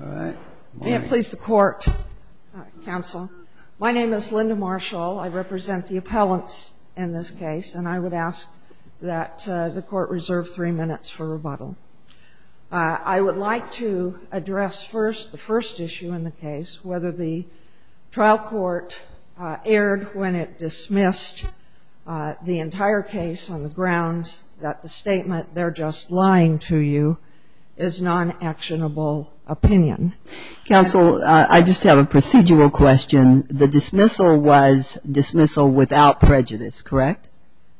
May it please the Court, Counsel. My name is Linda Marshall. I represent the appellants in this case, and I would ask that the Court reserve three minutes for rebuttal. I would like to address first the first issue in the case, whether the trial court erred when it to you is non-actionable opinion. Counsel, I just have a procedural question. The dismissal was dismissal without prejudice, correct?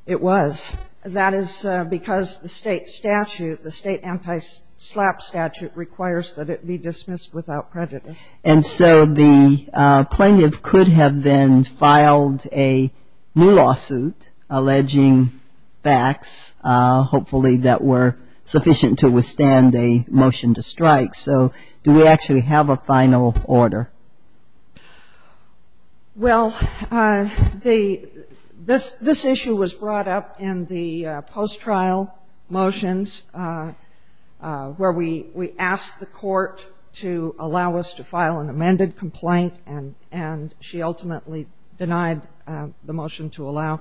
It was. That is because the state statute, the state anti-slap statute, requires that it be dismissed without prejudice. And so the plaintiff could have then filed a new lawsuit alleging facts, hopefully that were sufficient to withstand a motion to strike. So do we actually have a final order? Well, this issue was brought up in the post-trial motions where we asked the Court to allow us to file an amended complaint, and she ultimately denied the motion to allow.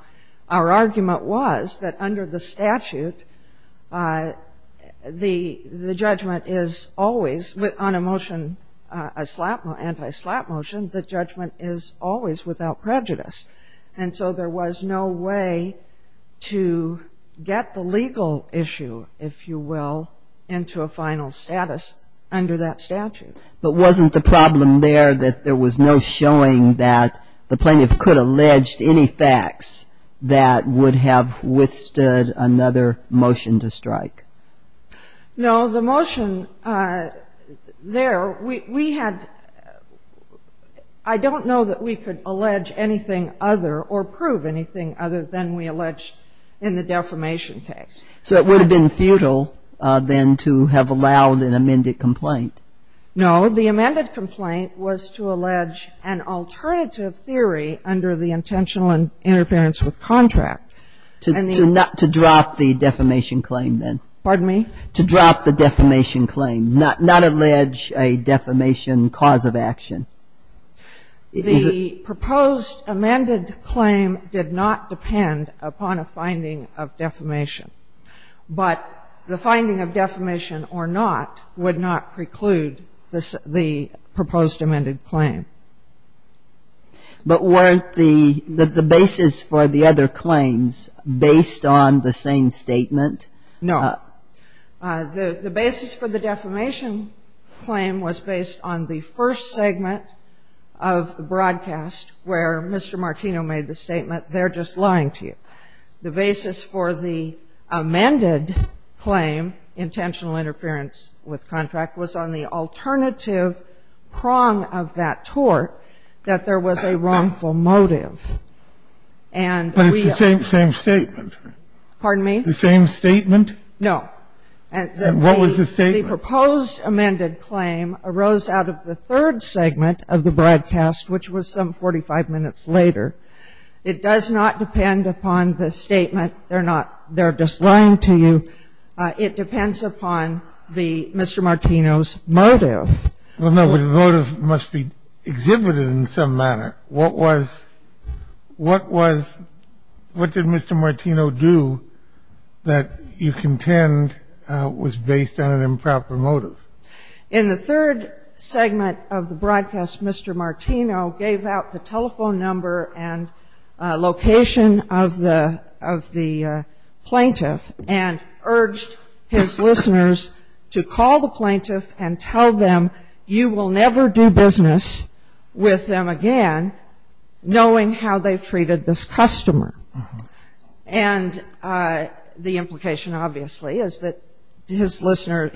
Our argument was that under the statute, the judgment is always, on a motion, a slap, anti-slap motion, the judgment is always without prejudice. And so there was no way to get the legal issue, if you will, into a final status under that statute. But wasn't the problem there that there was no showing that the plaintiff could have alleged any facts that would have withstood another motion to strike? No. The motion there, we had ‑‑ I don't know that we could allege anything other or prove anything other than we alleged in the defamation case. So it would have been futile, then, to have allowed an amended complaint? No. The amended complaint was to allege an alternative theory under the intentional interference with contract. To drop the defamation claim, then? Pardon me? To drop the defamation claim, not allege a defamation cause of action? The proposed amended claim did not depend upon a finding of defamation. But the finding of defamation or not would not preclude the proposed amended claim. But weren't the basis for the other claims based on the same statement? No. The basis for the defamation claim was based on the first segment of the broadcast where Mr. Martino made the statement, they're just lying to you. The basis for the amended claim, intentional interference with contract, was on the alternative prong of that tort, that there was a wrongful motive. But it's the same statement. Pardon me? The same statement? No. And what was the statement? The proposed amended claim arose out of the third segment of the broadcast, which was some 45 minutes later. It does not depend upon the statement, they're not, they're just lying to you. It depends upon the, Mr. Martino's motive. Well, no, but the motive must be exhibited in some manner. What was, what was, what did Mr. Martino do that you contend was based on an improper motive? In the third segment of the broadcast, Mr. Martino gave out the telephone number and location of the, of the plaintiff and urged his listeners to call the plaintiff and tell them, you will never do business with them again knowing how they've treated this customer. And the implication, obviously, is that his listeners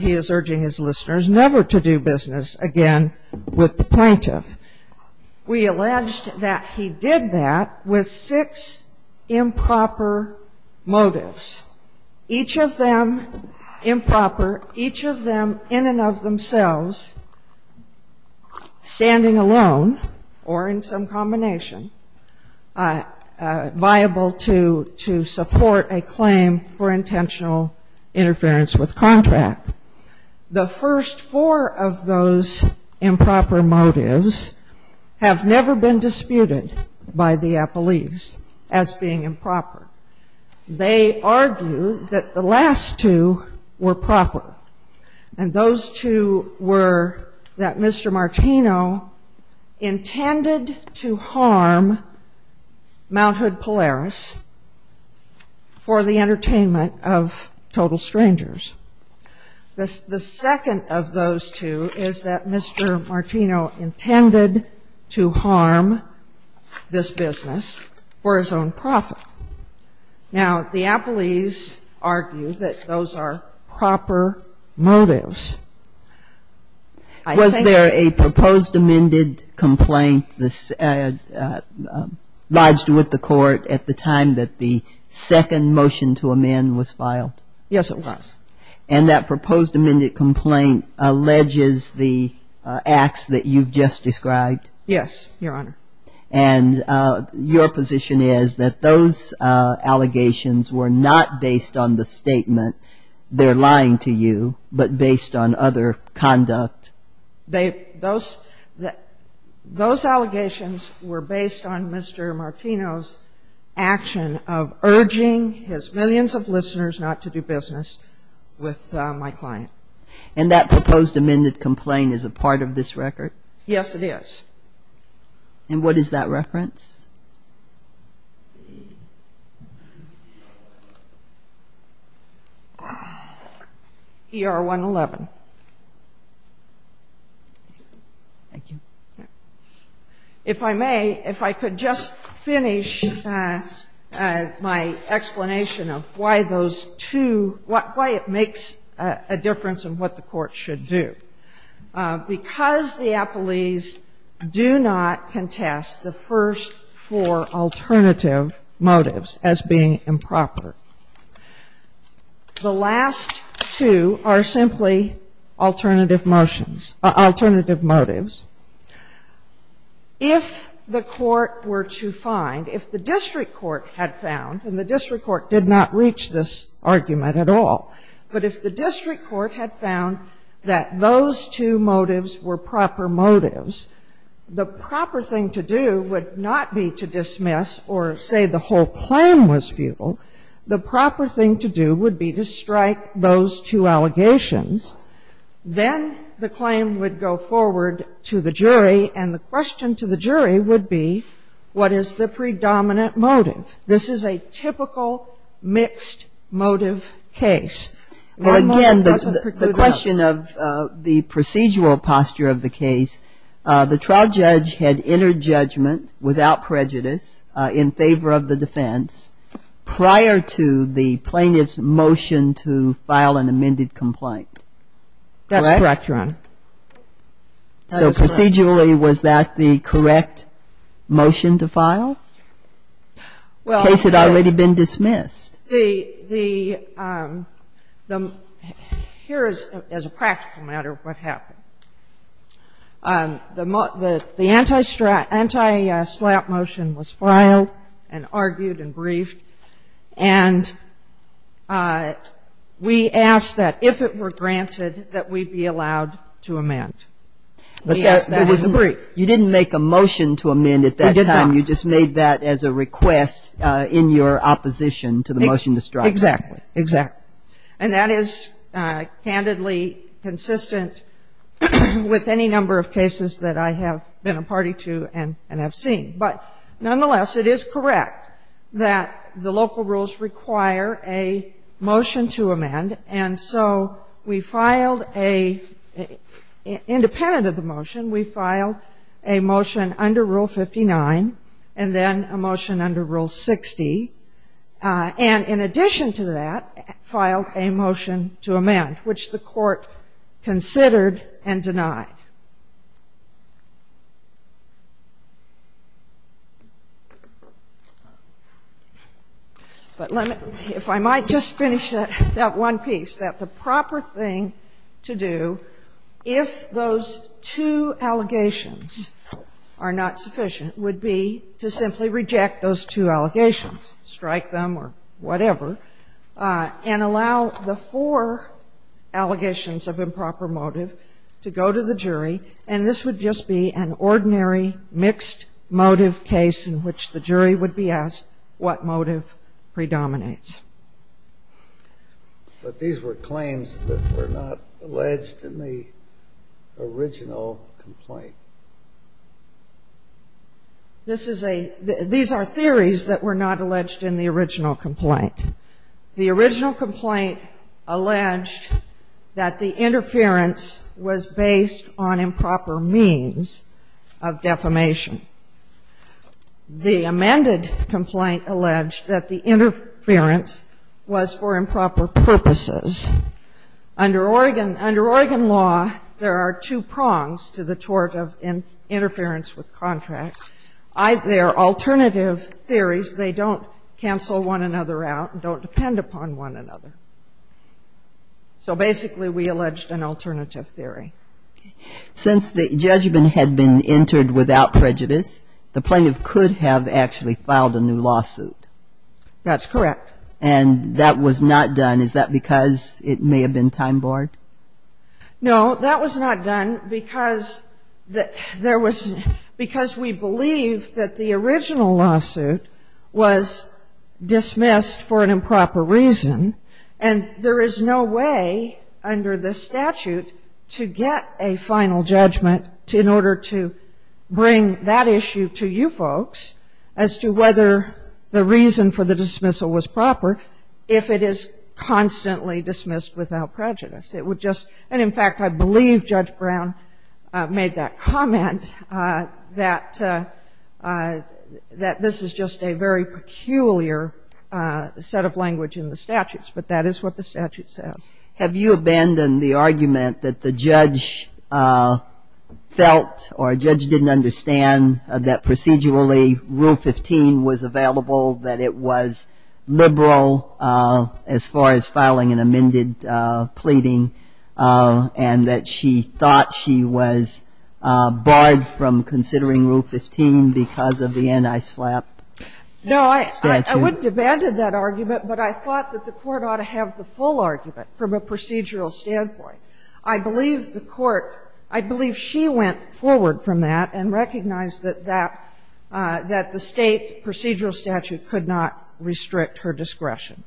will never do business again with the plaintiff. We alleged that he did that with six improper motives, each of them improper, each of them in and of themselves, standing alone or in some combination, viable to, to support a claim for intentional interference with contract. The first four of those improper motives have never been disputed by the Appellees as being improper. They argue that the last two were proper, and those two were that Mr. Martino intended to harm Mount Hood Polaris for the entertainment of total strangers. The, the second of those two is that Mr. Martino intended to harm this business for his own profit. Now, the Appellees argue that those are proper motives. I think Was there a proposed amended complaint lodged with the Court at the time that the second motion to amend was filed? Yes, it was. And that proposed amended complaint alleges the acts that you've just described? Yes, Your Honor. And your position is that those allegations were not based on the statement, they're lying to you, but based on other conduct? They, those, those allegations were based on Mr. Martino's action of urging his listeners not to do business with my client. And that proposed amended complaint is a part of this record? Yes, it is. And what is that reference? ER111. Thank you. If I may, if I could just finish my explanation of why those two, why it makes a difference in what the Court should do. Because the Appellees do not contest the first four alternative motives as being improper, the last two are simply alternative motions, alternative motives. If the Court were to find, if the district court had found, and the district court did not reach this argument at all, but if the district court had found that those two motives were proper motives, the proper thing to do would not be to dismiss or say the whole claim was futile. The proper thing to do would be to strike those two allegations. Then the claim would go forward to the jury, and the question to the jury would be, what is the predominant motive? This is a typical mixed motive case. Again, the question of the procedural posture of the case, the trial judge had entered judgment without prejudice in favor of the defense prior to the plaintiff's motion to file an amended complaint. Correct? That's correct, Your Honor. That is correct. So procedurally, was that the correct motion to file? Well, the case had already been dismissed. The, the, here is, as a practical matter, what happened. The anti-slap motion was filed and argued and briefed, and we asked that if it were granted that we be allowed to amend. We asked that as a brief. You didn't make a motion to amend at that time. We did not. You just made that as a request in your opposition to the motion to strike. Exactly. Exactly. And that is candidly consistent with any number of cases that I have been a party to and have seen. But nonetheless, it is correct that the local rules require a motion to amend, and so we filed a, independent of the motion, we filed a motion under Rule 59, and then a motion under Rule 60, and in addition to that, filed a motion to amend, which the Court considered and denied. But let me, if I might just finish that, that one piece, that the proper thing to do, if those two allegations are not sufficient, would be to simply reject those two allegations, strike them or whatever, and allow the four allegations of improper motive to go to the jury, and this would just be an ordinary mixed motive case in which the jury would be asked what motive predominates. But these were claims that were not alleged in the original complaint. This is a, these are theories that were not alleged in the original complaint. The original complaint alleged that the interference was based on improper means of defamation. The amended complaint alleged that the interference was for improper purposes. Under Oregon, under Oregon law, there are two prongs to the tort of interference with contracts. I, there are alternative theories. They don't cancel one another out, don't depend upon one another. So basically, we alleged an alternative theory. Since the judgment had been entered without prejudice, the plaintiff could have actually filed a new lawsuit. That's correct. And that was not done. Is that because it may have been time-bored? No, that was not done because there was, because we believe that the original lawsuit was dismissed for an improper reason, and there is no way under the statute to get a final judgment in order to bring that issue to you folks as to whether the reason for the dismissal was proper if it is constantly dismissed without prejudice. It would just, and in fact, I believe Judge Brown made that comment, that this is just a very peculiar set of language in the statutes. But that is what the statute says. Have you abandoned the argument that the judge felt or a judge didn't understand that procedurally Rule 15 was available, that it was liberal as far as filing an amended pleading, and that she thought she was barred from considering Rule 15 because of the anti-SLAPP statute? No, I wouldn't have abandoned that argument, but I thought that the Court ought to have the full argument from a procedural standpoint. I believe the Court, I believe she went forward from that and recognized that that, that the state procedural statute could not restrict her discretion.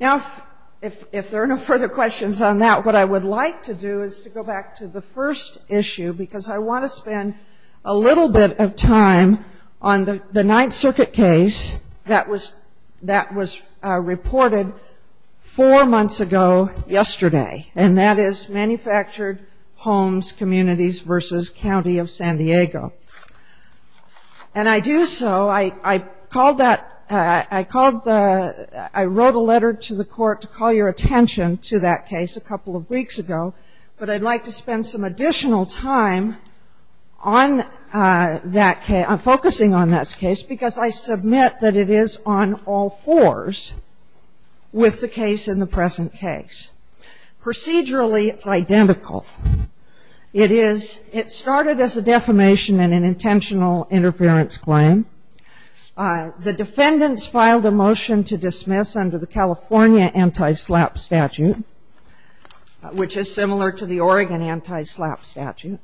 Now, if there are no further questions on that, what I would like to do is to go back to the first issue because I want to spend a little bit of time on the Ninth Circuit case that was reported four months ago yesterday, and that is manufactured homes, communities, versus County of San Diego. And I do so, I called that, I called the, I wrote a letter to the Court to call your attention to that case a couple of weeks ago, but I'd like to spend some additional time on that case, focusing on that case because I submit that it is on all fours with the case in the present case. Procedurally, it's identical. It is, it started as a defamation and an intentional interference claim. The defendants filed a motion to dismiss under the California anti-SLAPP statute, which is similar to the Oregon anti-SLAPP statute.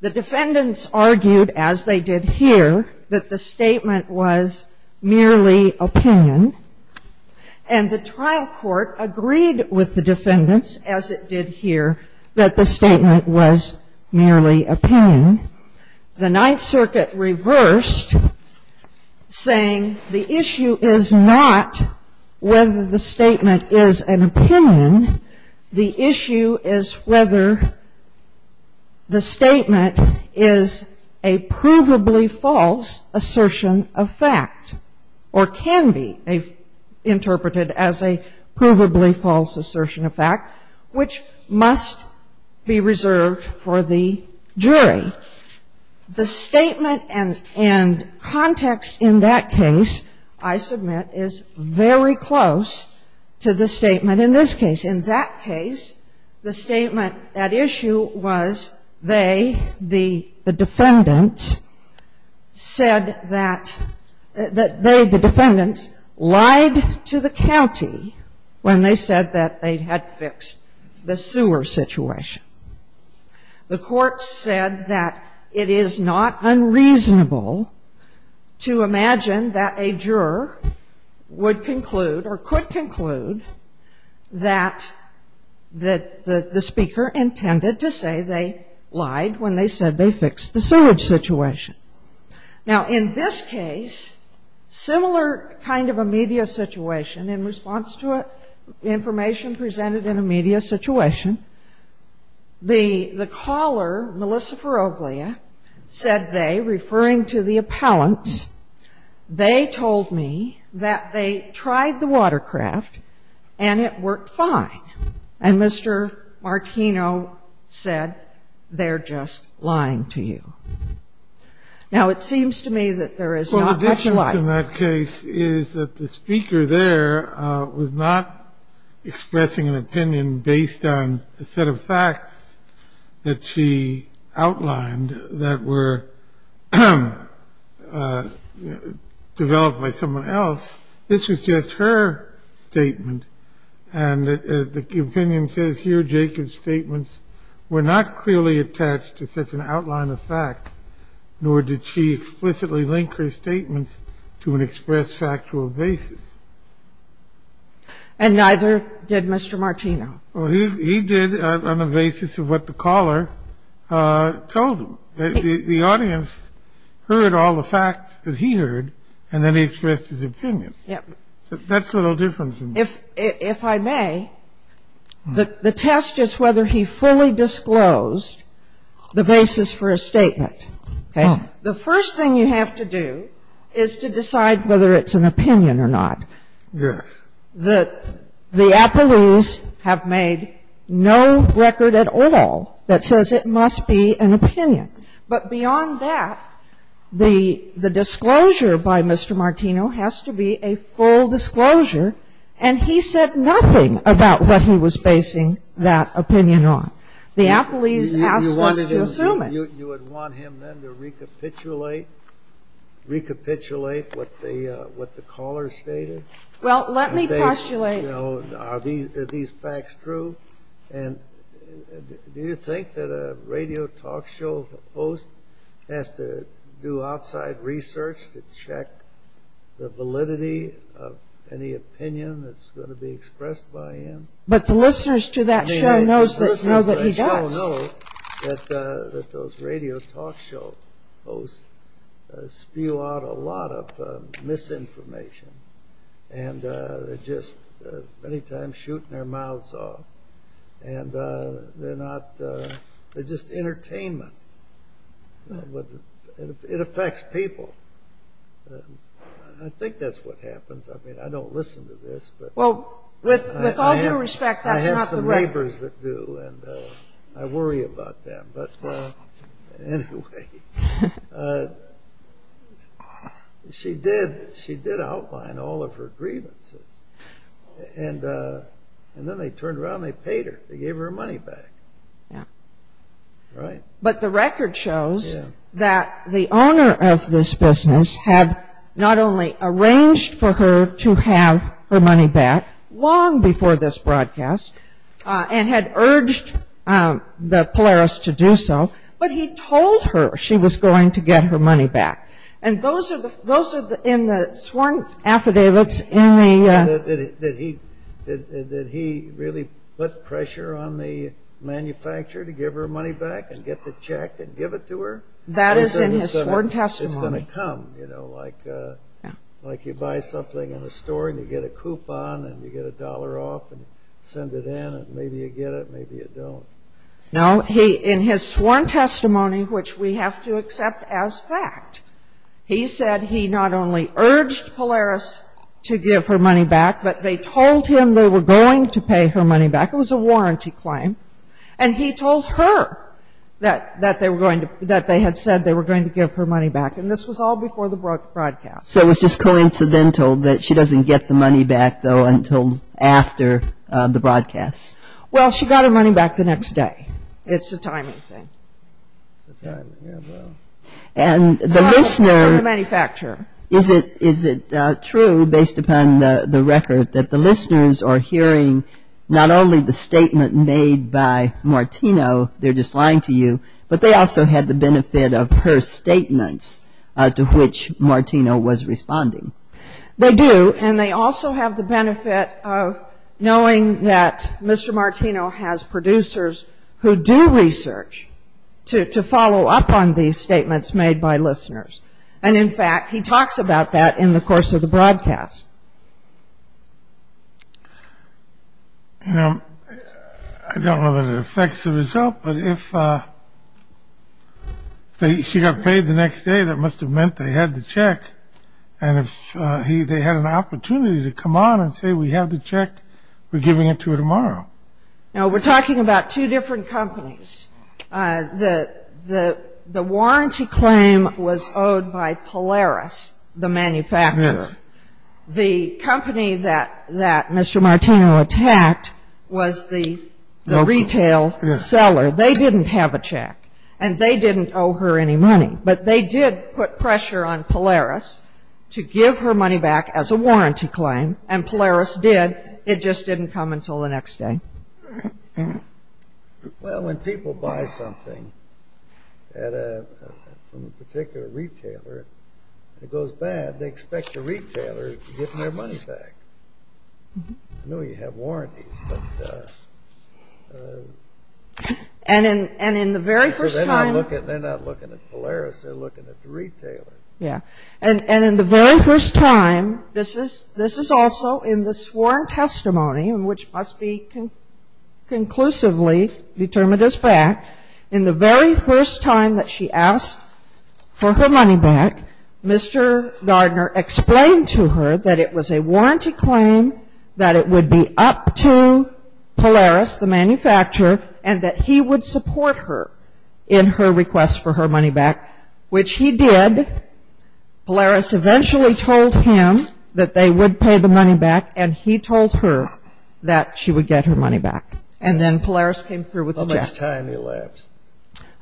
The defendants argued, as they did here, that the statement was merely opinion, and the trial court agreed with the defendants, as it did here, that the statement was merely opinion. The Ninth Circuit reversed, saying the issue is not whether the statement is an opinion, the issue is whether the statement is a provably false assertion of fact, or can be a false assertion of fact, which must be reserved for the jury. The statement and context in that case, I submit, is very close to the statement in this case. In that case, the statement at issue was they, the defendants, said that they, the defendants, lied to the county when they said that they had fixed the sewer situation. The court said that it is not unreasonable to imagine that a juror would conclude, or could conclude, that the speaker intended to say they lied when they said they fixed the sewage situation. Now, in this case, similar kind of a media situation, in response to information presented in a media situation, the caller, Melissa Faroglia, said they, referring to the appellants, they told me that they tried the watercraft, and it worked fine, and Mr. Martino said, they're just lying to you. Now, it seems to me that there is not much lie. Well, the difference in that case is that the speaker there was not expressing an opinion based on a set of facts that she outlined that were developed by someone else. This was just her statement, and the opinion says here, Jacob's statements were not true. And the fact is that she did not clearly attach to such an outline of fact, nor did she explicitly link her statements to an express factual basis. And neither did Mr. Martino. Well, he did on the basis of what the caller told him. The audience heard all the facts that he heard, and then he expressed his opinion. Yes. That's a little different. If I may, the test is whether he fully disclosed the basis for a statement. Okay? The first thing you have to do is to decide whether it's an opinion or not. Yes. The appellees have made no record at all that says it must be an opinion. But beyond that, the disclosure by Mr. Martino has to be a full disclosure, and he said nothing about what he was basing that opinion on. The appellees asked us to assume it. You would want him then to recapitulate what the caller stated? Well, let me postulate. Are these facts true? And do you think that a radio talk show host has to do outside research to check the validity of any opinion that's going to be expressed by him? But the listeners to that show know that he does. The listeners to that show know that those radio talk show hosts spew out a lot of misinformation. And they're just many times shooting their mouths off. They're just entertainment. It affects people. I think that's what happens. I mean, I don't listen to this. Well, with all due respect, that's not the way. I have some neighbors that do, and I worry about them. But anyway, she did outline all of her grievances. And then they turned around and they paid her. They gave her money back. But the record shows that the owner of this business had not only arranged for her to have her money back long before this broadcast and had urged the Polaris to do so, but he told her she was going to get her money back. And those are in the sworn affidavits. Did he really put pressure on the manufacturer to give her money back and get the check and give it to her? That is in his sworn testimony. It's going to come, you know, like you buy something in a store and you get a coupon and you get a dollar off and you send it in and maybe you get it and maybe you don't. No, in his sworn testimony, which we have to accept as fact, he said he not only urged Polaris to give her money back, but they told him they were going to pay her money back. It was a warranty claim. And he told her that they had said they were going to give her money back. And this was all before the broadcast. So it was just coincidental that she doesn't get the money back, though, until after the broadcast. Well, she got her money back the next day. It's a timing thing. It's a timing, yeah, well. And the listener... Oh, from the manufacturer. Is it true, based upon the record, that the listeners are hearing not only the statement made by Martino, they're just lying to you, but they also had the benefit of her statements to which Martino was responding? They do. And they also have the benefit of knowing that Mr. Martino has producers who do research to follow up on these statements made by listeners. And, in fact, he talks about that in the course of the broadcast. You know, I don't know that it affects the result, but if she got paid the next day, that must have meant they had the check. And if they had an opportunity to come on and say, we have the check, we're giving it to her tomorrow. Now, we're talking about two different companies. The warranty claim was owed by Polaris, the manufacturer. Yes. The company that Mr. Martino attacked was the retail seller. They didn't have a check, and they didn't owe her any money. But they did put pressure on Polaris to give her money back as a warranty claim, and Polaris did. It just didn't come until the next day. Well, when people buy something from a particular retailer, and it goes bad, they expect the retailer to give them their money back. I know you have warranties, but... And in the very first time... They're not looking at Polaris, they're looking at the retailer. Yeah. And in the very first time, this is also in the sworn testimony, which must be conclusively determined as fact, in the very first time that she asked for her money back, Mr. Gardner explained to her that it was a warranty claim, that it would be up to Polaris, the manufacturer, and that he would support her in her request for her money back, which he did. Polaris eventually told him that they would pay the money back, and he told her that she would get her money back. And then Polaris came through with the check. How much time elapsed?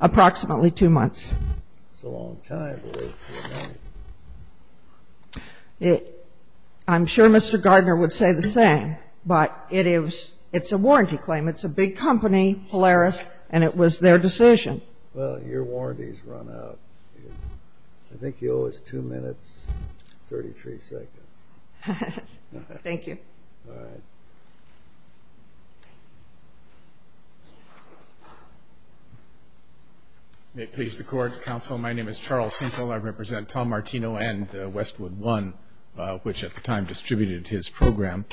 Approximately two months. That's a long time. I'm sure Mr. Gardner would say the same, but it's a warranty claim. It's a big company, Polaris, and it was their decision. Well, your warranties run out. I think you owe us 2 minutes, 33 seconds. Thank you. All right. May it please the Court. Counsel, my name is Charles Sinkel. I represent Tom Martino and Westwood One, which at the time distributed his program.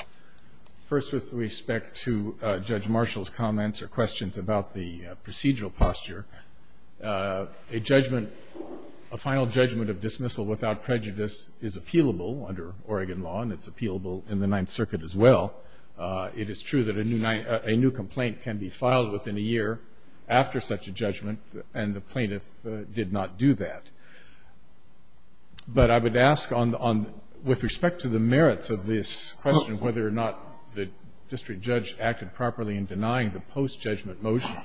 First, with respect to Judge Marshall's comments or questions about the procedural posture, a final judgment of dismissal without prejudice is appealable under Oregon law, and it's appealable in the Ninth Circuit as well. It is true that a new complaint can be filed within a year after such a judgment, and the plaintiff did not do that. But I would ask, with respect to the merits of this question, whether or not the district judge acted properly in denying the post-judgment motion,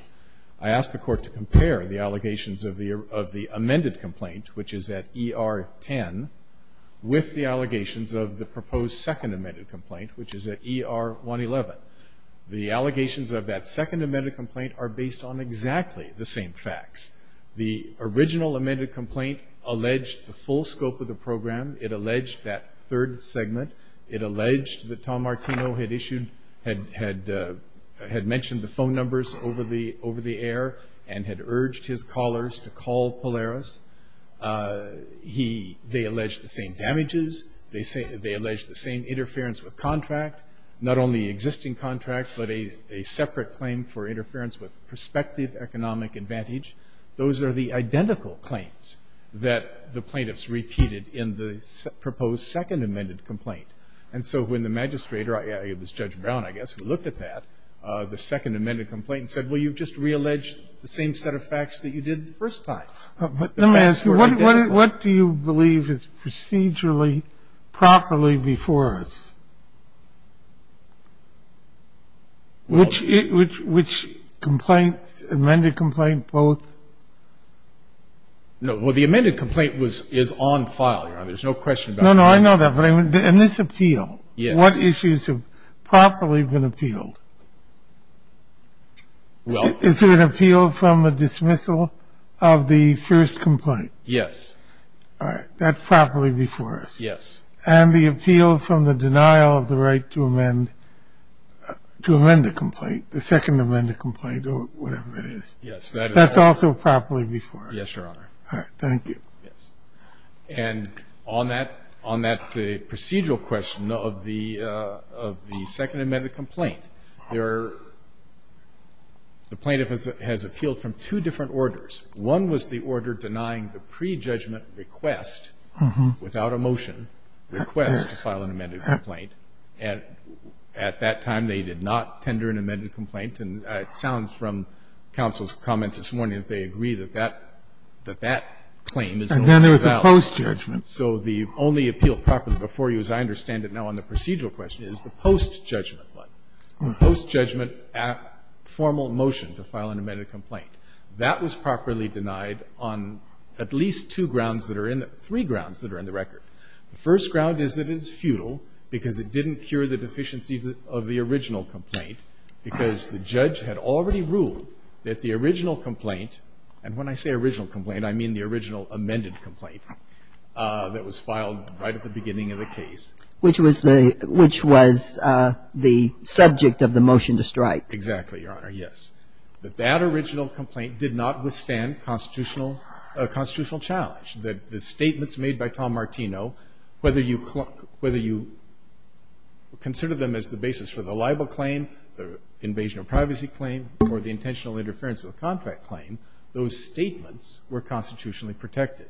I ask the Court to compare the allegations of the amended complaint, which is at ER 10, with the allegations of the proposed second amended complaint, which is at ER 111. The allegations of that second amended complaint are based on exactly the same facts. The original amended complaint alleged the full scope of the program. It alleged that third segment. It alleged that Tom Martino had mentioned the phone numbers over the air and had urged his callers to call Polaris. They alleged the same damages. They alleged the same interference with contract, not only existing contract, but a separate claim for interference with prospective economic advantage. Those are the identical claims that the plaintiffs repeated in the proposed second amended complaint. And so when the magistrator, it was Judge Brown, I guess, who looked at that, the second amended complaint, and said, well, you've just realleged the same set of facts that you did the first time. Let me ask you, what do you believe is procedurally properly before us? Which complaints, amended complaint, both? No, well, the amended complaint is on file, Your Honor. There's no question about that. No, no, I know that. And this appeal. Yes. What issues have properly been appealed? Well. Is there an appeal from a dismissal of the first complaint? Yes. All right. That's properly before us. Yes. And the appeal from the denial of the right to amend the complaint, the second amended complaint, or whatever it is. Yes. That's also properly before us. Yes, Your Honor. All right. Thank you. Yes. And on that procedural question of the second amended complaint, the plaintiff has appealed from two different orders. One was the order denying the prejudgment request, without a motion, request to file an amended complaint. And at that time, they did not tender an amended complaint. And it sounds from counsel's comments this morning that they agree that that claim is no longer valid. Post-judgment. So the only appeal properly before you, as I understand it now on the procedural question, is the post-judgment one. The post-judgment formal motion to file an amended complaint. That was properly denied on at least three grounds that are in the record. The first ground is that it is futile because it didn't cure the deficiency of the original complaint because the judge had already ruled that the original complaint that was filed right at the beginning of the case. Which was the subject of the motion to strike. Exactly, Your Honor. Yes. That that original complaint did not withstand constitutional challenge. That the statements made by Tom Martino, whether you consider them as the basis for the libel claim, the invasion of privacy claim, or the intentional interference with a contract claim, those statements were constitutionally protected.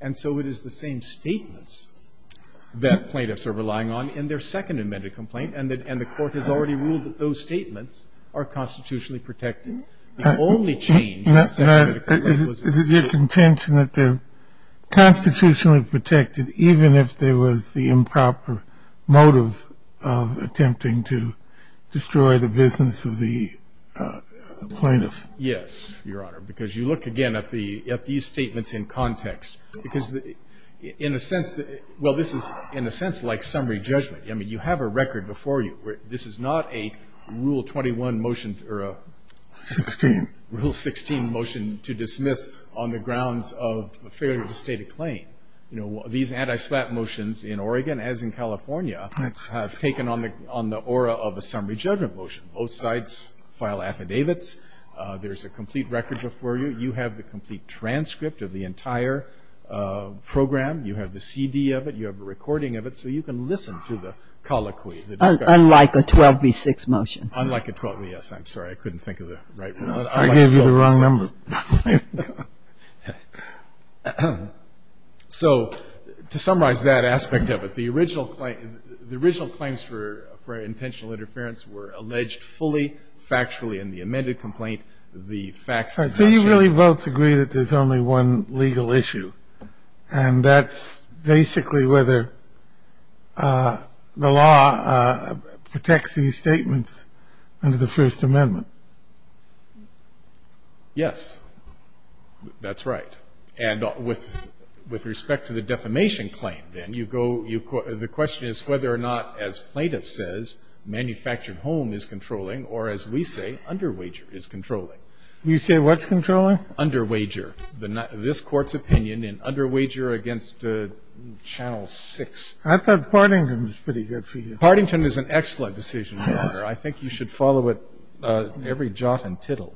And so it is the same statements that plaintiffs are relying on in their second amended complaint. And the court has already ruled that those statements are constitutionally protected. The only change that was made. Is it your contention that they're constitutionally protected even if there was the improper motive of attempting to destroy the business of the plaintiff? Yes, Your Honor. Because you look again at these statements in context. Because in a sense, well this is in a sense like summary judgment. You have a record before you. This is not a Rule 21 motion or a Rule 16 motion to dismiss on the grounds of failure to state a claim. These anti-slap motions in Oregon, as in California, have taken on the aura of a summary judgment motion. Both sides file affidavits. There's a complete record before you. You have the complete transcript of the entire program. You have the CD of it. You have a recording of it. So you can listen to the colloquy. Unlike a 12B6 motion. Unlike a 12B6. I'm sorry. I couldn't think of the right one. I gave you the wrong number. So to summarize that aspect of it. The original claims for intentional interference were alleged fully, factually, in the amended complaint. The facts did not change. So you really both agree that there's only one legal issue. And that's basically whether the law protects these statements under the First Amendment. Yes. That's right. And with respect to the defamation claim, then, the question is whether or not, as plaintiff says, manufactured home is controlling or, as we say, underwager is controlling. You say what's controlling? Underwager. This Court's opinion in underwager against Channel 6. I thought Partington was pretty good for you. Partington is an excellent decision. I think you should follow it every jot and tittle.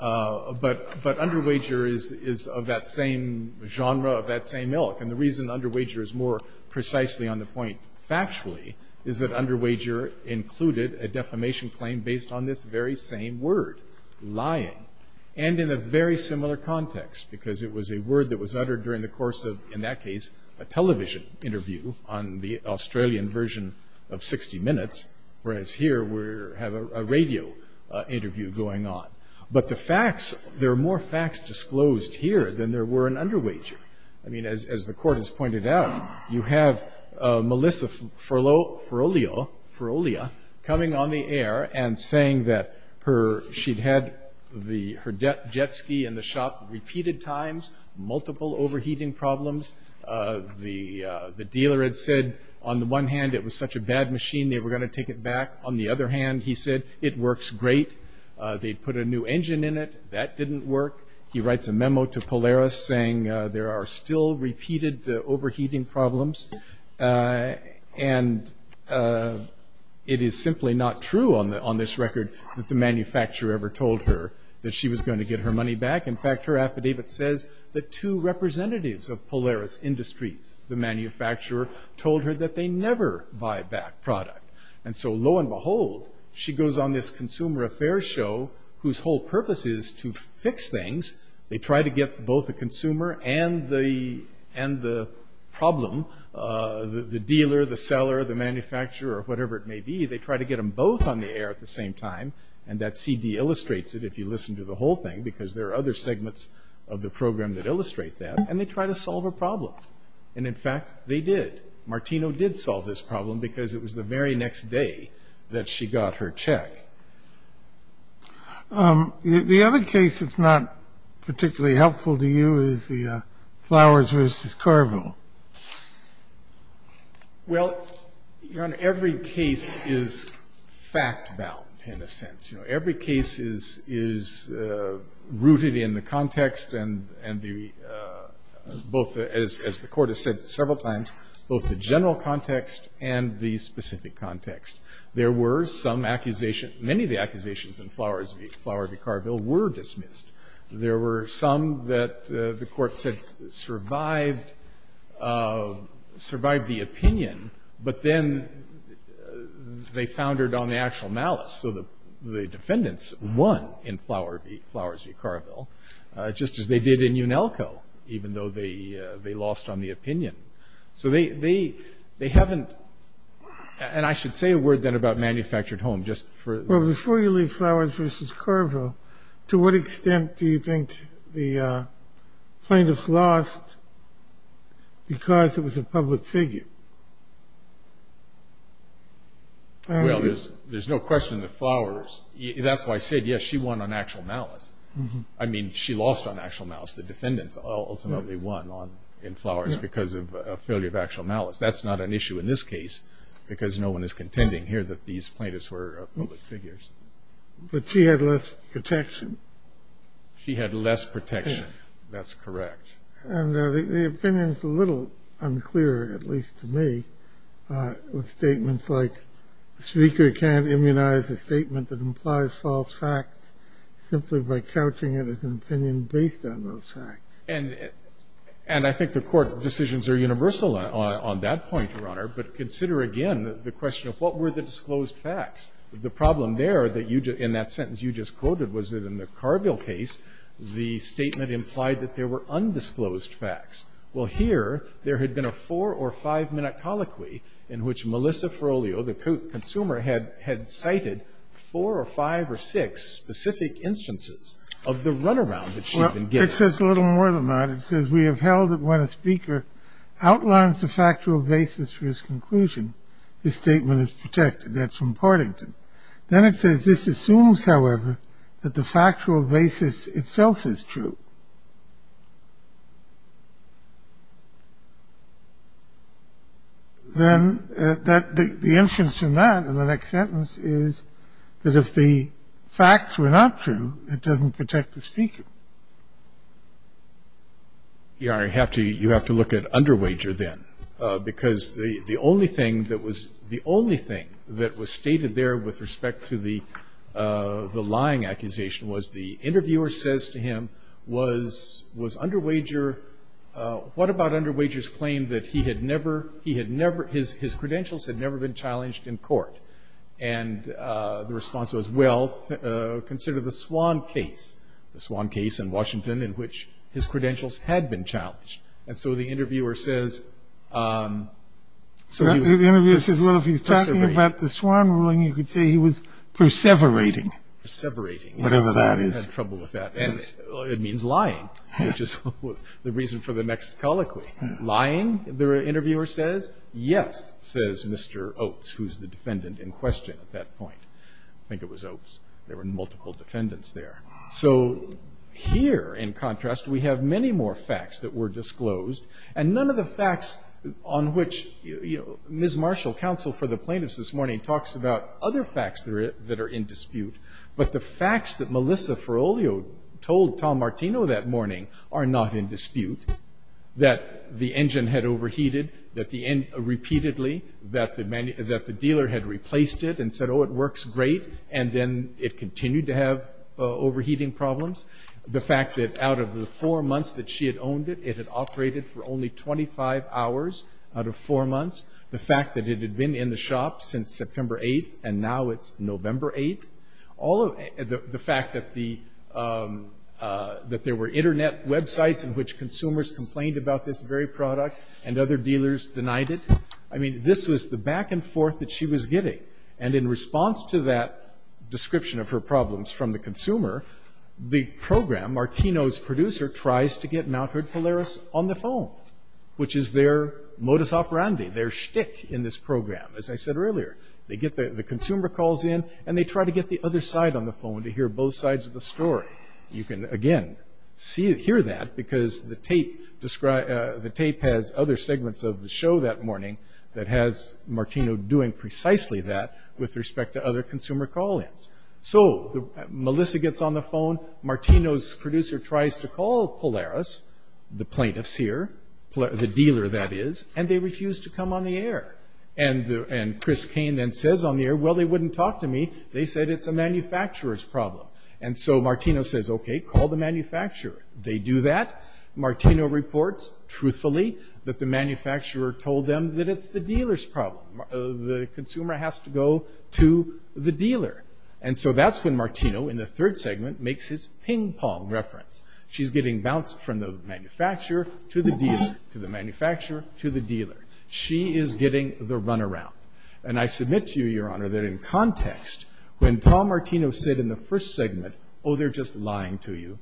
But underwager is of that same genre, of that same ilk. And the reason underwager is more precisely on the point factually is that underwager included a defamation claim based on this very same word, lying. And in a very similar context because it was a word that was uttered during the course of, in that case, a television interview on the Australian version of 60 Minutes, whereas here we have a radio interview going on. But the facts, there are more facts disclosed here than there were in underwager. I mean, as the Court has pointed out, you have Melissa Ferrolia coming on the air and saying that she'd had her jet ski in the shop repeated times, multiple overheating problems. The dealer had said, on the one hand, it was such a bad machine they were going to take it back. On the other hand, he said, it works great. They put a new engine in it. That didn't work. He writes a memo to Polaris saying there are still repeated overheating problems. And it is simply not true on this record that the manufacturer ever told her that she was going to get her money back. In fact, her affidavit says that two representatives of Polaris Industries, the manufacturer, told her that they never buy back product. And so, lo and behold, she goes on this consumer affairs show whose whole thing is they try to get both the consumer and the problem, the dealer, the seller, the manufacturer, or whatever it may be, they try to get them both on the air at the same time. And that CD illustrates it if you listen to the whole thing because there are other segments of the program that illustrate that. And they try to solve a problem. And, in fact, they did. Martino did solve this problem because it was the very next day that she got her check. The other case that's not particularly helpful to you is the Flowers versus Carville. Well, every case is fact-bound in a sense. You know, every case is rooted in the context and the both, as the court has said several times, both the general context and the specific context. There were some accusations. Many of the accusations in Flowers v. Carville were dismissed. There were some that the court said survived the opinion. But then they foundered on the actual malice. So the defendants won in Flowers v. Carville, just as they did in Unelco, even though they lost on the opinion. So they haven't, and I should say a word then about manufactured home. Well, before you leave Flowers v. Carville, to what extent do you think the plaintiff lost because it was a public figure? Well, there's no question that Flowers, that's why I said, yes, she won on actual malice. I mean, she lost on actual malice. The defendants ultimately won in Flowers because of a failure of actual malice. That's not an issue in this case because no one is contending here that these plaintiffs were public figures. But she had less protection. She had less protection. That's correct. And the opinion's a little unclear, at least to me, with statements like the speaker can't immunize a statement that implies false facts simply by an opinion based on those facts. And I think the court decisions are universal on that point, Your Honor. But consider again the question of what were the disclosed facts. The problem there that you just, in that sentence you just quoted, was that in the Carville case, the statement implied that there were undisclosed facts. Well, here, there had been a four- or five-minute colloquy in which Melissa Frollio, the consumer, had cited four or five or six specific instances of the runaround that she had been given. Well, it says a little more than that. It says, we have held that when a speaker outlines the factual basis for his conclusion, the statement is protected. That's from Partington. Then it says, this assumes, however, that the factual basis itself is true. Then the inference in that, in the next sentence, is that if the facts were not true, it doesn't protect the speaker. Your Honor, you have to look at Underwager then. Because the only thing that was stated there with respect to the lying accusation was the interviewer says to him, was Underwager, what about Underwager's claim that his credentials had never been challenged in court? And the response was, well, consider the Swann case, the Swann case in Washington in which his credentials had been challenged. And so the interviewer says, so he was perseverating. The interviewer says, well, if he's talking about the Swann ruling, you could say he was perseverating. Perseverating. Whatever that is. He had trouble with that. And it means lying, which is the reason for the next colloquy. Lying, the interviewer says. Yes, says Mr. Oates, who's the defendant in question at that point. I think it was Oates. There were multiple defendants there. So here, in contrast, we have many more facts that were disclosed. And none of the facts on which Ms. Marshall, counsel for the plaintiffs this morning, talks about other facts that are in dispute. But the facts that Melissa Feroglio told Tom Martino that morning are not in dispute. That the engine had overheated repeatedly. That the dealer had replaced it and said, oh, it works great. And then it continued to have overheating problems. The fact that out of the four months that she had owned it, it had operated for only 25 hours out of four months. The fact that it had been in the shop since September 8th, and now it's November 8th. The fact that there were Internet websites in which consumers complained about this very product and other dealers denied it. This was the back and forth that she was getting. And in response to that description of her problems from the consumer, the program, Martino's producer, tries to get Mt. Hood Polaris on the phone. Which is their modus operandi, their shtick in this program, as I said earlier. They get the consumer calls in and they try to get the other side on the phone to hear both sides of the story. You can, again, hear that because the tape has other segments of the show that morning that has Martino doing precisely that with respect to other consumer call-ins. So, Melissa gets on the phone, Martino's producer tries to call Polaris, the plaintiffs here, the dealer that is, and they refuse to come on the air. And Chris Kane then says on the air, well, they wouldn't talk to me. They said it's a manufacturer's problem. And so, Martino says, okay, call the manufacturer. They do that. Martino reports, truthfully, that the manufacturer told them that it's the dealer's problem. The consumer has to go to the dealer. And so, that's when Martino, in the third segment, makes his ping pong reference. She's getting bounced from the manufacturer to the dealer, to the manufacturer, to the dealer. She is getting the runaround. And I submit to you, Your Honor, that in context, when Tom Martino said in the first segment, oh, they're just lying to you,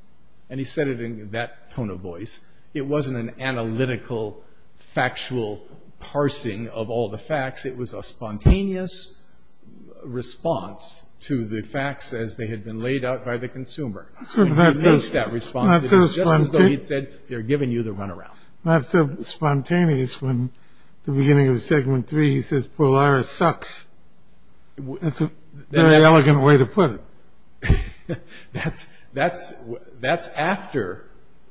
and he said it in that tone of voice, it wasn't an analytical, factual parsing of all the facts. It was a spontaneous response to the facts as they had been laid out by the consumer. And he makes that response just as though he'd said, they're giving you the runaround. Not so spontaneous when, at the beginning of segment three, he says, Polaris sucks. That's a very elegant way to put it. That's after,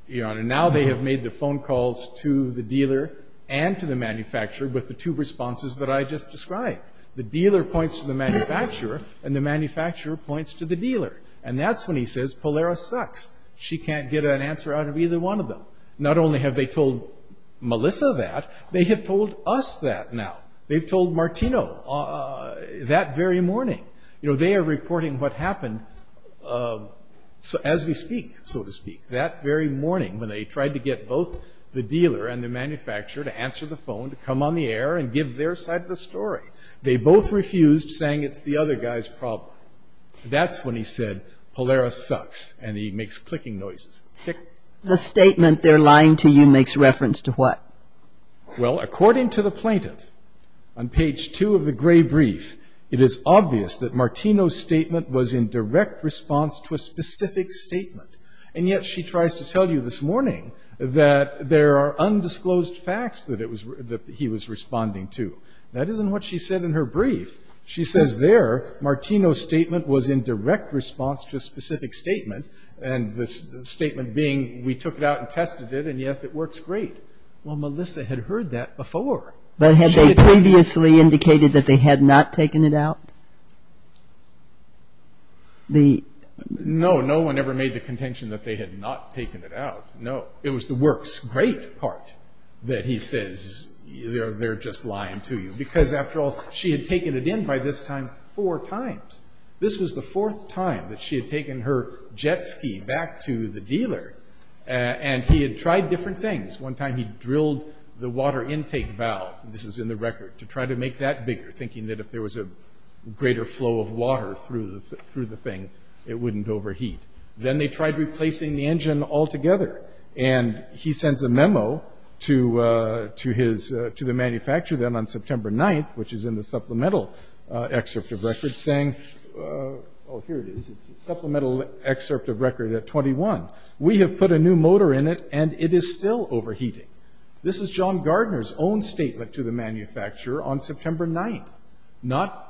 Your Honor, now they have made the phone calls to the dealer and to the manufacturer with the two responses that I just described. The dealer points to the manufacturer, and the manufacturer points to the dealer. And that's when he says, Polaris sucks. She can't get an answer out of either one of them. Not only have they told Melissa that, they have told us that now. They've told Martino that very morning. You know, they are reporting what happened as we speak, so to speak, that very morning when they tried to get both the dealer and the manufacturer to answer the phone, to come on the air and give their side of the story. They both refused, saying it's the other guy's problem. That's when he said, Polaris sucks, and he makes clicking noises. The statement, they're lying to you, makes reference to what? Well, according to the plaintiff, on page two of the gray brief, it is obvious that Martino's statement was in direct response to a specific statement. And yet she tries to tell you this morning that there are undisclosed facts that he was responding to. That isn't what she said in her brief. She says there, Martino's statement was in direct response to a specific statement, and the statement being, we took it out and tested it, and yes, it works great. Well, Melissa had heard that before. But had they previously indicated that they had not taken it out? No, no one ever made the contention that they had not taken it out, no. It was the works great part that he says, they're just lying to you. Because after all, she had taken it in by this time four times. This was the fourth time that she had taken her jet ski back to the dealer, and he had tried different things. One time he drilled the water intake valve, this is in the record, to try to make that bigger, thinking that if there was a greater flow of water through the thing, it wouldn't overheat. Then they tried replacing the engine altogether, and he sends a memo to the manufacturer then on September 9th, which is in the supplemental excerpt of record saying, oh, here it is. It's a supplemental excerpt of record at 21. We have put a new motor in it, and it is still overheating. This is John Gardner's own statement to the manufacturer on September 9th.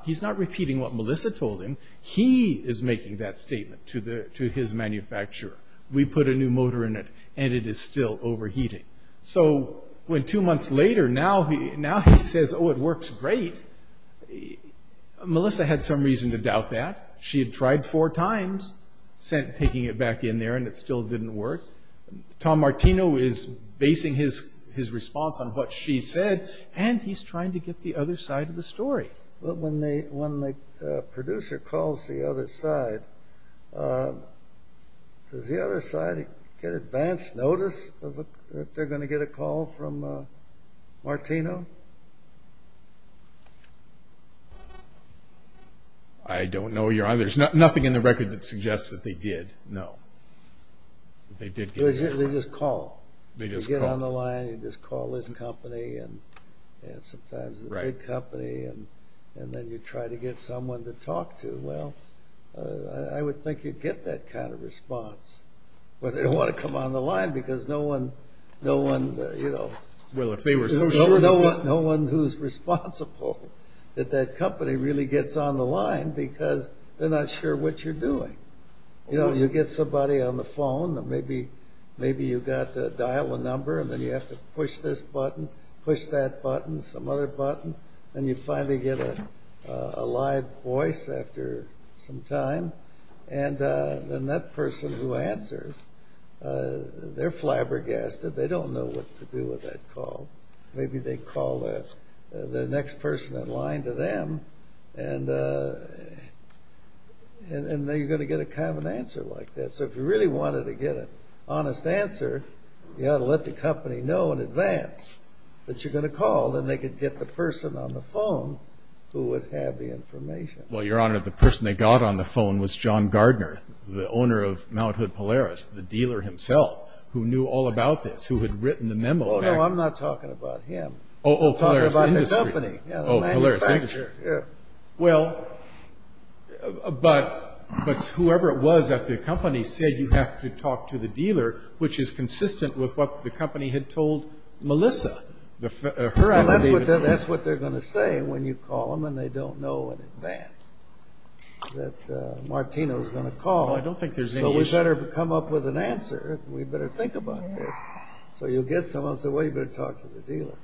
He's not repeating what Melissa told him. He is making that statement to his manufacturer. We put a new motor in it, and it is still overheating. Two months later, now he says, oh, it works great. Melissa had some reason to doubt that. She had tried four times, taking it back in there, and it still didn't work. Tom Martino is basing his response on what she said, and he's trying to get the other side of the story. When the producer calls the other side, does the other side get advance notice that they're going to get a call from Martino? I don't know. There's nothing in the record that suggests that they did. No. They did get a call. They just call. They just call. You get on the line, you just call his company, and sometimes the big company, and then you try to get someone to talk to. I would think you'd get that kind of response. They don't want to come on the line, because no one who's responsible at that company really gets on the line, because they're not sure what you're doing. You get somebody on the phone, and maybe you've got to dial a number, and then you have to push this button, push that button, some other button, and you finally get a live voice after some time, and then that person who answers, they're flabbergasted. They don't know what to do with that call. Maybe they call the next person in line to them, and then you're going to get a common answer like that. So if you really wanted to get an honest answer, that you're going to call, then they could get the person on the phone who would have the information. Well, Your Honor, the person they got on the phone was John Gardner, the owner of Mt. Hood Polaris, the dealer himself, who knew all about this, who had written the memo. Oh, no, I'm not talking about him. Oh, Polaris Industries. I'm talking about the company. Oh, Polaris Industries. Yeah, the manufacturer. Well, but whoever it was at the company said you have to talk to the dealer, which is consistent with what the company had told Melissa. Well, that's what they're going to say when you call them and they don't know in advance that Martino's going to call. Well, I don't think there's any issue. So we'd better come up with an answer. We'd better think about this. So you'll get someone who'll say, well, you'd better talk to the dealer.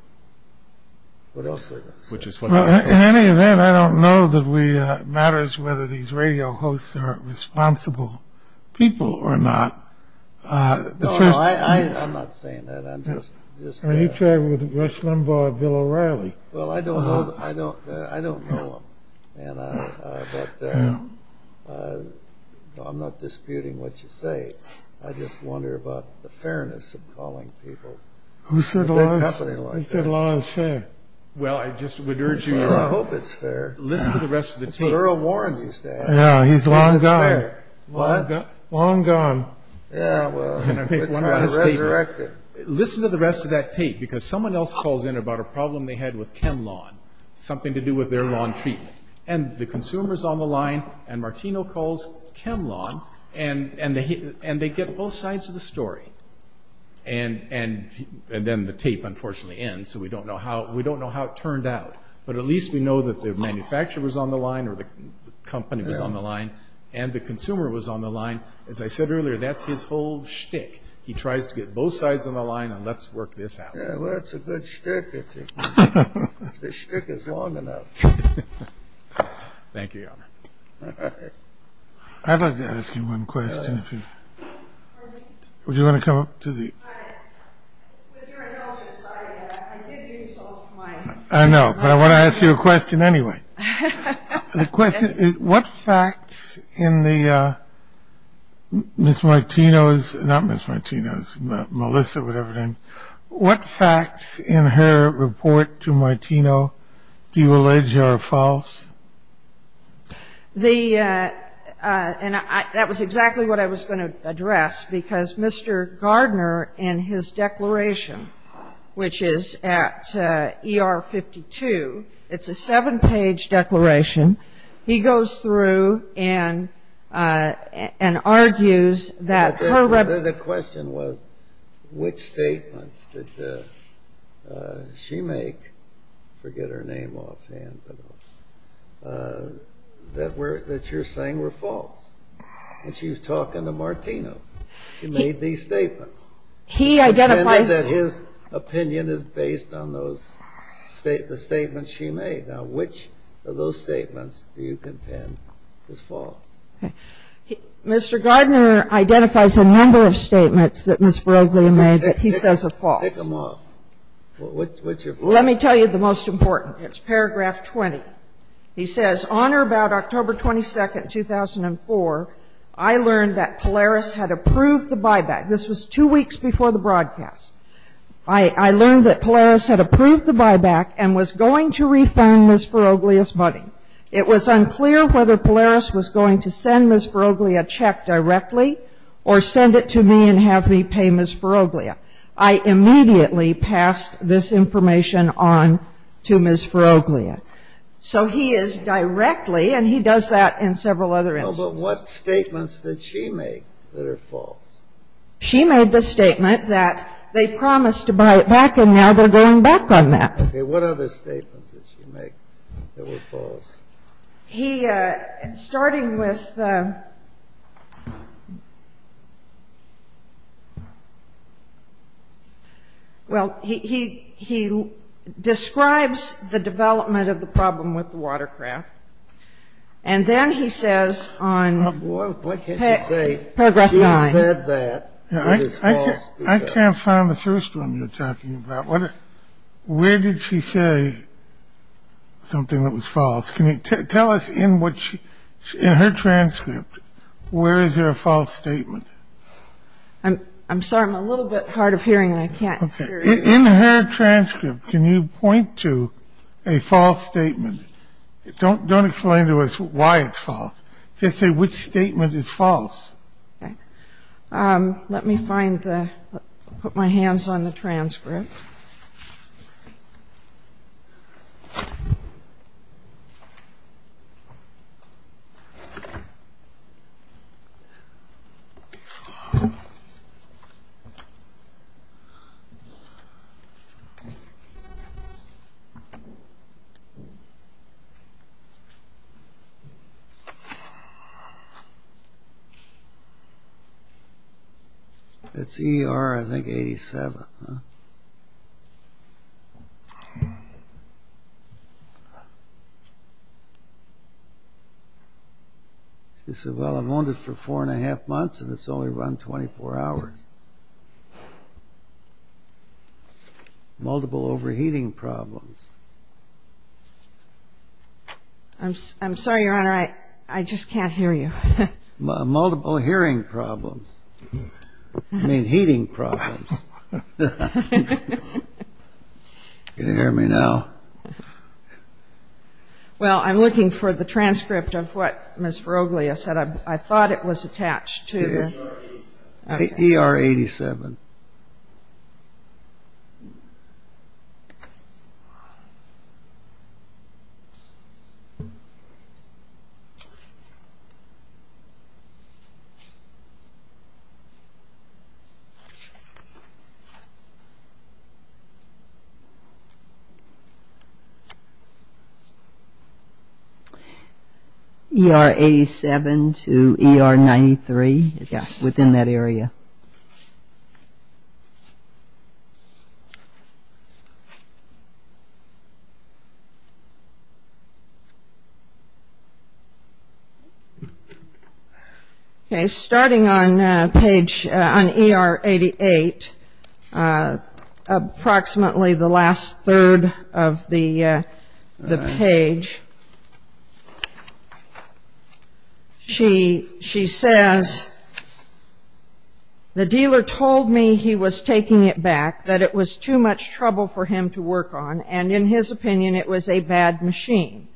What else are they going to say? Well, in any event, I don't know that it matters whether these radio hosts are responsible people or not. No, no, I'm not saying that. Are you talking with Rush Limbaugh or Bill O'Reilly? Well, I don't know them. But I'm not disputing what you say. I just wonder about the fairness of calling people. Who said law is fair? Well, I just would urge you to listen to the rest of the team. That's what Earl Warren used to say. Yeah, he's long gone. What? Long gone. Yeah, well, it's resurrected. Listen to the rest of that tape because someone else calls in about a problem they had with Ken Lawn, something to do with their lawn treatment. And the consumer's on the line and Martino calls Ken Lawn and they get both sides of the story. And then the tape, unfortunately, ends. So we don't know how it turned out. But at least we know that the manufacturer was on the line or the company was on the line and the consumer was on the line. As I said earlier, that's his whole shtick. He tries to get both sides on the line and let's work this out. Yeah, well, it's a good shtick. The shtick is long enough. Thank you, Your Honor. I'd like to ask you one question. Would you want to come up to the... With your indulgence, I did give you some of mine. I know. But I want to ask you a question anyway. The question is, what facts in the... Ms. Martino's... Not Ms. Martino's. Melissa, whatever her name... What facts in her report to Martino do you allege are false? The... And that was exactly what I was going to address because Mr. Gardner, in his declaration, which is at ER 52, it's a seven-page declaration, he goes through and argues that her... The question was, which statements did she make, forget her name offhand, that you're saying were false. And she was talking to Martino. She made these statements. He identifies... Now, which of those statements do you contend is false? Okay. Mr. Gardner identifies a number of statements that Ms. Faraglia made that he says are false. Pick them off. Which are false? Let me tell you the most important. It's paragraph 20. He says, On or about October 22, 2004, I learned that Polaris had approved the buyback. This was two weeks before the broadcast. I learned that Polaris had approved the buyback and was going to refund Ms. Faraglia's money. It was unclear whether Polaris was going to send Ms. Faraglia a check directly or send it to me and have me pay Ms. Faraglia. I immediately passed this information on to Ms. Faraglia. So he is directly, and he does that in several other instances. But what statements did she make that are false? She made the statement that they promised to buy it back and now they're going back on that. Okay, what other statements did she make that were false? He, starting with, well, he describes the development of the problem with the watercraft and then he says on paragraph 9. Boy, what can you say? She said that it is false. I can't find the first one you're talking about. Where did she say something that was false? Can you tell us in her transcript where is there a false statement? I'm sorry, I'm a little bit hard of hearing and I can't hear you. In her transcript, can you point to a false statement? Don't explain to us why it's false. Just say which statement is false. Okay, let me put my hands on the transcript. It's ER, I think, 87. She said, well, I've owned it for four and a half months and it's only run 24 hours. Multiple overheating problems. I'm sorry, Your Honor, I just can't hear you. Multiple hearing problems. I mean, heating problems. Can you hear me now? Well, I'm looking for the transcript of what Ms. Veroglia said. I thought it was attached to the... ER 87. ER 87. ER 87 to ER 93. It's within that area. Okay. Starting on page, on ER 88, approximately the last third of the page, she says, the dealer told me he was taking it back, that it was too much trouble for him to work on, and in his opinion it was a bad machine.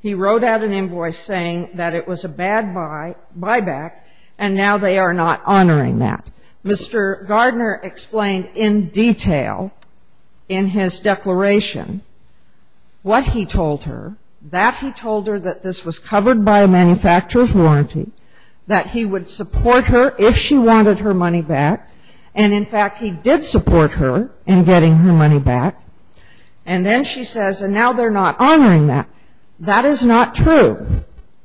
He wrote out an invoice saying that it was a bad buyback and now they are not honoring that. Mr. Gardner explained in detail in his declaration what he told her, that he told her that this was covered by a manufacturer's warranty, that he would support her if she wanted her money back, and in fact he did support her in getting her money back, and then she says, and now they're not honoring that. That is not true.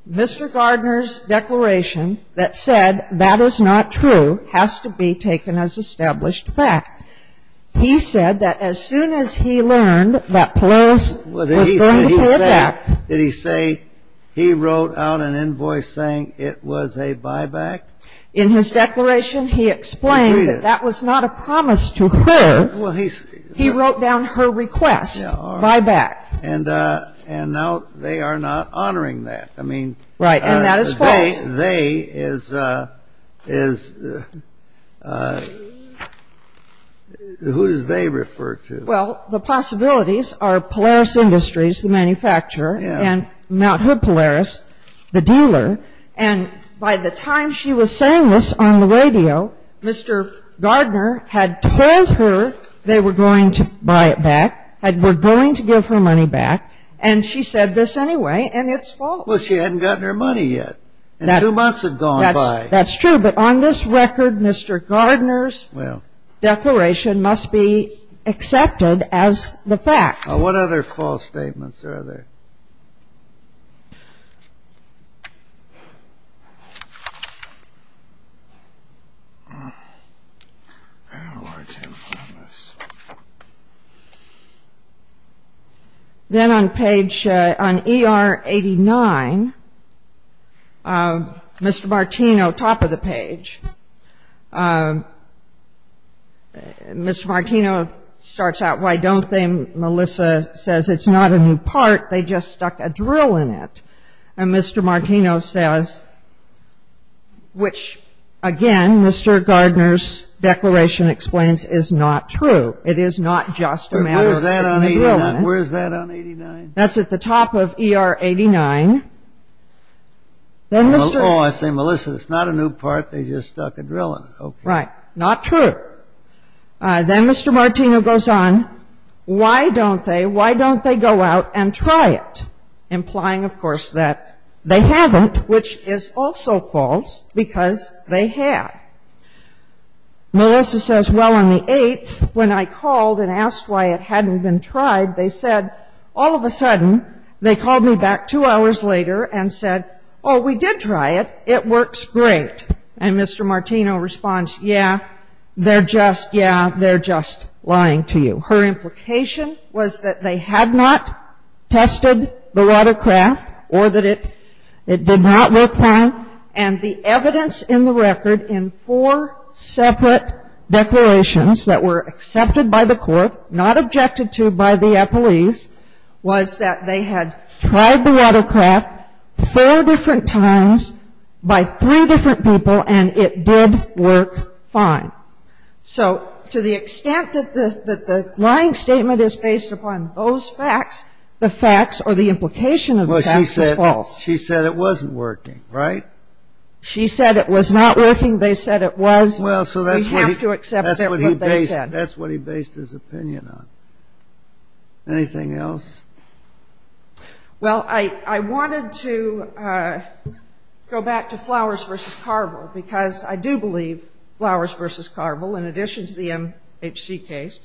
Mr. Gardner's declaration that said that is not true has to be taken as established fact. He said that as soon as he learned that Polaris was going to pay it back. Did he say he wrote out an invoice saying it was a buyback? In his declaration he explained that that was not a promise to her. He wrote down her request, buyback. And now they are not honoring that. Right. And that is false. They is, who does they refer to? Well, the possibilities are Polaris Industries, the manufacturer, and Mount Hood Polaris, the dealer, and by the time she was saying this on the radio, Mr. Gardner had told her they were going to buy it back, were going to give her money back, and she said this anyway, and it's false. Well, she hadn't gotten her money yet, and two months had gone by. That's true, but on this record, Mr. Gardner's declaration must be accepted as the fact. What other false statements are there? Then on page, on ER 89, Mr. Martino, top of the page, Mr. Martino starts out, why don't they? Melissa says, it's not a new part, they just stuck a drill in it. And Mr. Martino says, which, again, Mr. Gardner's declaration explains is not true. It is not just a matter of sticking a drill in it. Where is that on 89? That's at the top of ER 89. Oh, I see. Melissa, it's not a new part, they just stuck a drill in it. Right. Not true. Then Mr. Martino goes on, why don't they? Why don't they go out and try it? Implying, of course, that they haven't, which is also false, because they had. Melissa says, well, on the 8th, when I called and asked why it hadn't been tried, they said, all of a sudden, they called me back two hours later and said, oh, we did try it, it works great. And Mr. Martino responds, yeah, they're just, yeah, they're just lying to you. Her implication was that they had not tested the watercraft or that it did not work fine. And the evidence in the record in four separate declarations that were accepted by the court, not objected to by the appellees, was that they had tried the watercraft four different times by three different people and it did work fine. So to the extent that the lying statement is based upon those facts, the facts or the implication of the facts is false. Well, she said it wasn't working, right? She said it was not working, they said it was. Well, so that's what he. We have to accept what they said. That's what he based his opinion on. Anything else? Well, I wanted to go back to Flowers v. Carville because I do believe Flowers v. Carville, in addition to the MHC case,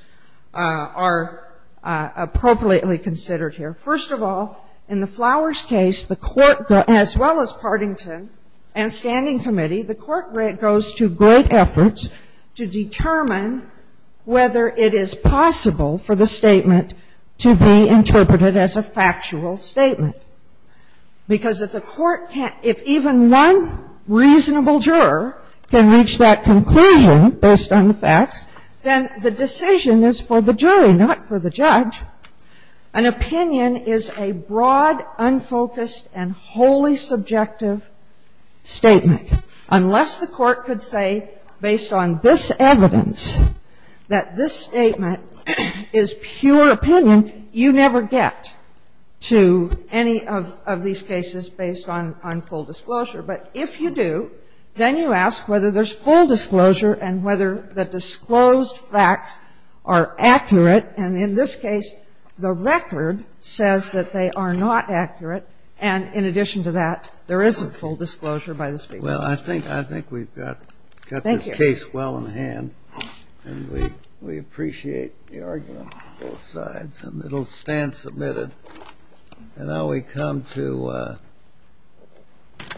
are appropriately considered here. First of all, in the Flowers case, the court, as well as Partington and standing committee, the court goes to great efforts to determine whether it is possible for the statement to be interpreted as a factual statement. Because if the court can't, if even one reasonable juror can reach that conclusion based on the facts, then the decision is for the jury, not for the judge. An opinion is a broad, unfocused, and wholly subjective statement. Unless the court could say, based on this evidence, that this statement is pure opinion, you never get to any of these cases based on full disclosure. But if you do, then you ask whether there's full disclosure and whether the disclosed facts are accurate, and in this case, the record says that they are not accurate, and in addition to that, there is full disclosure by the speaker. Well, I think we've got this case well in hand, and we appreciate the argument on both sides, and it'll stand submitted. And now we come to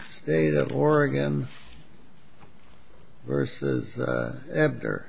State of Oregon v. Ebder. Thank you.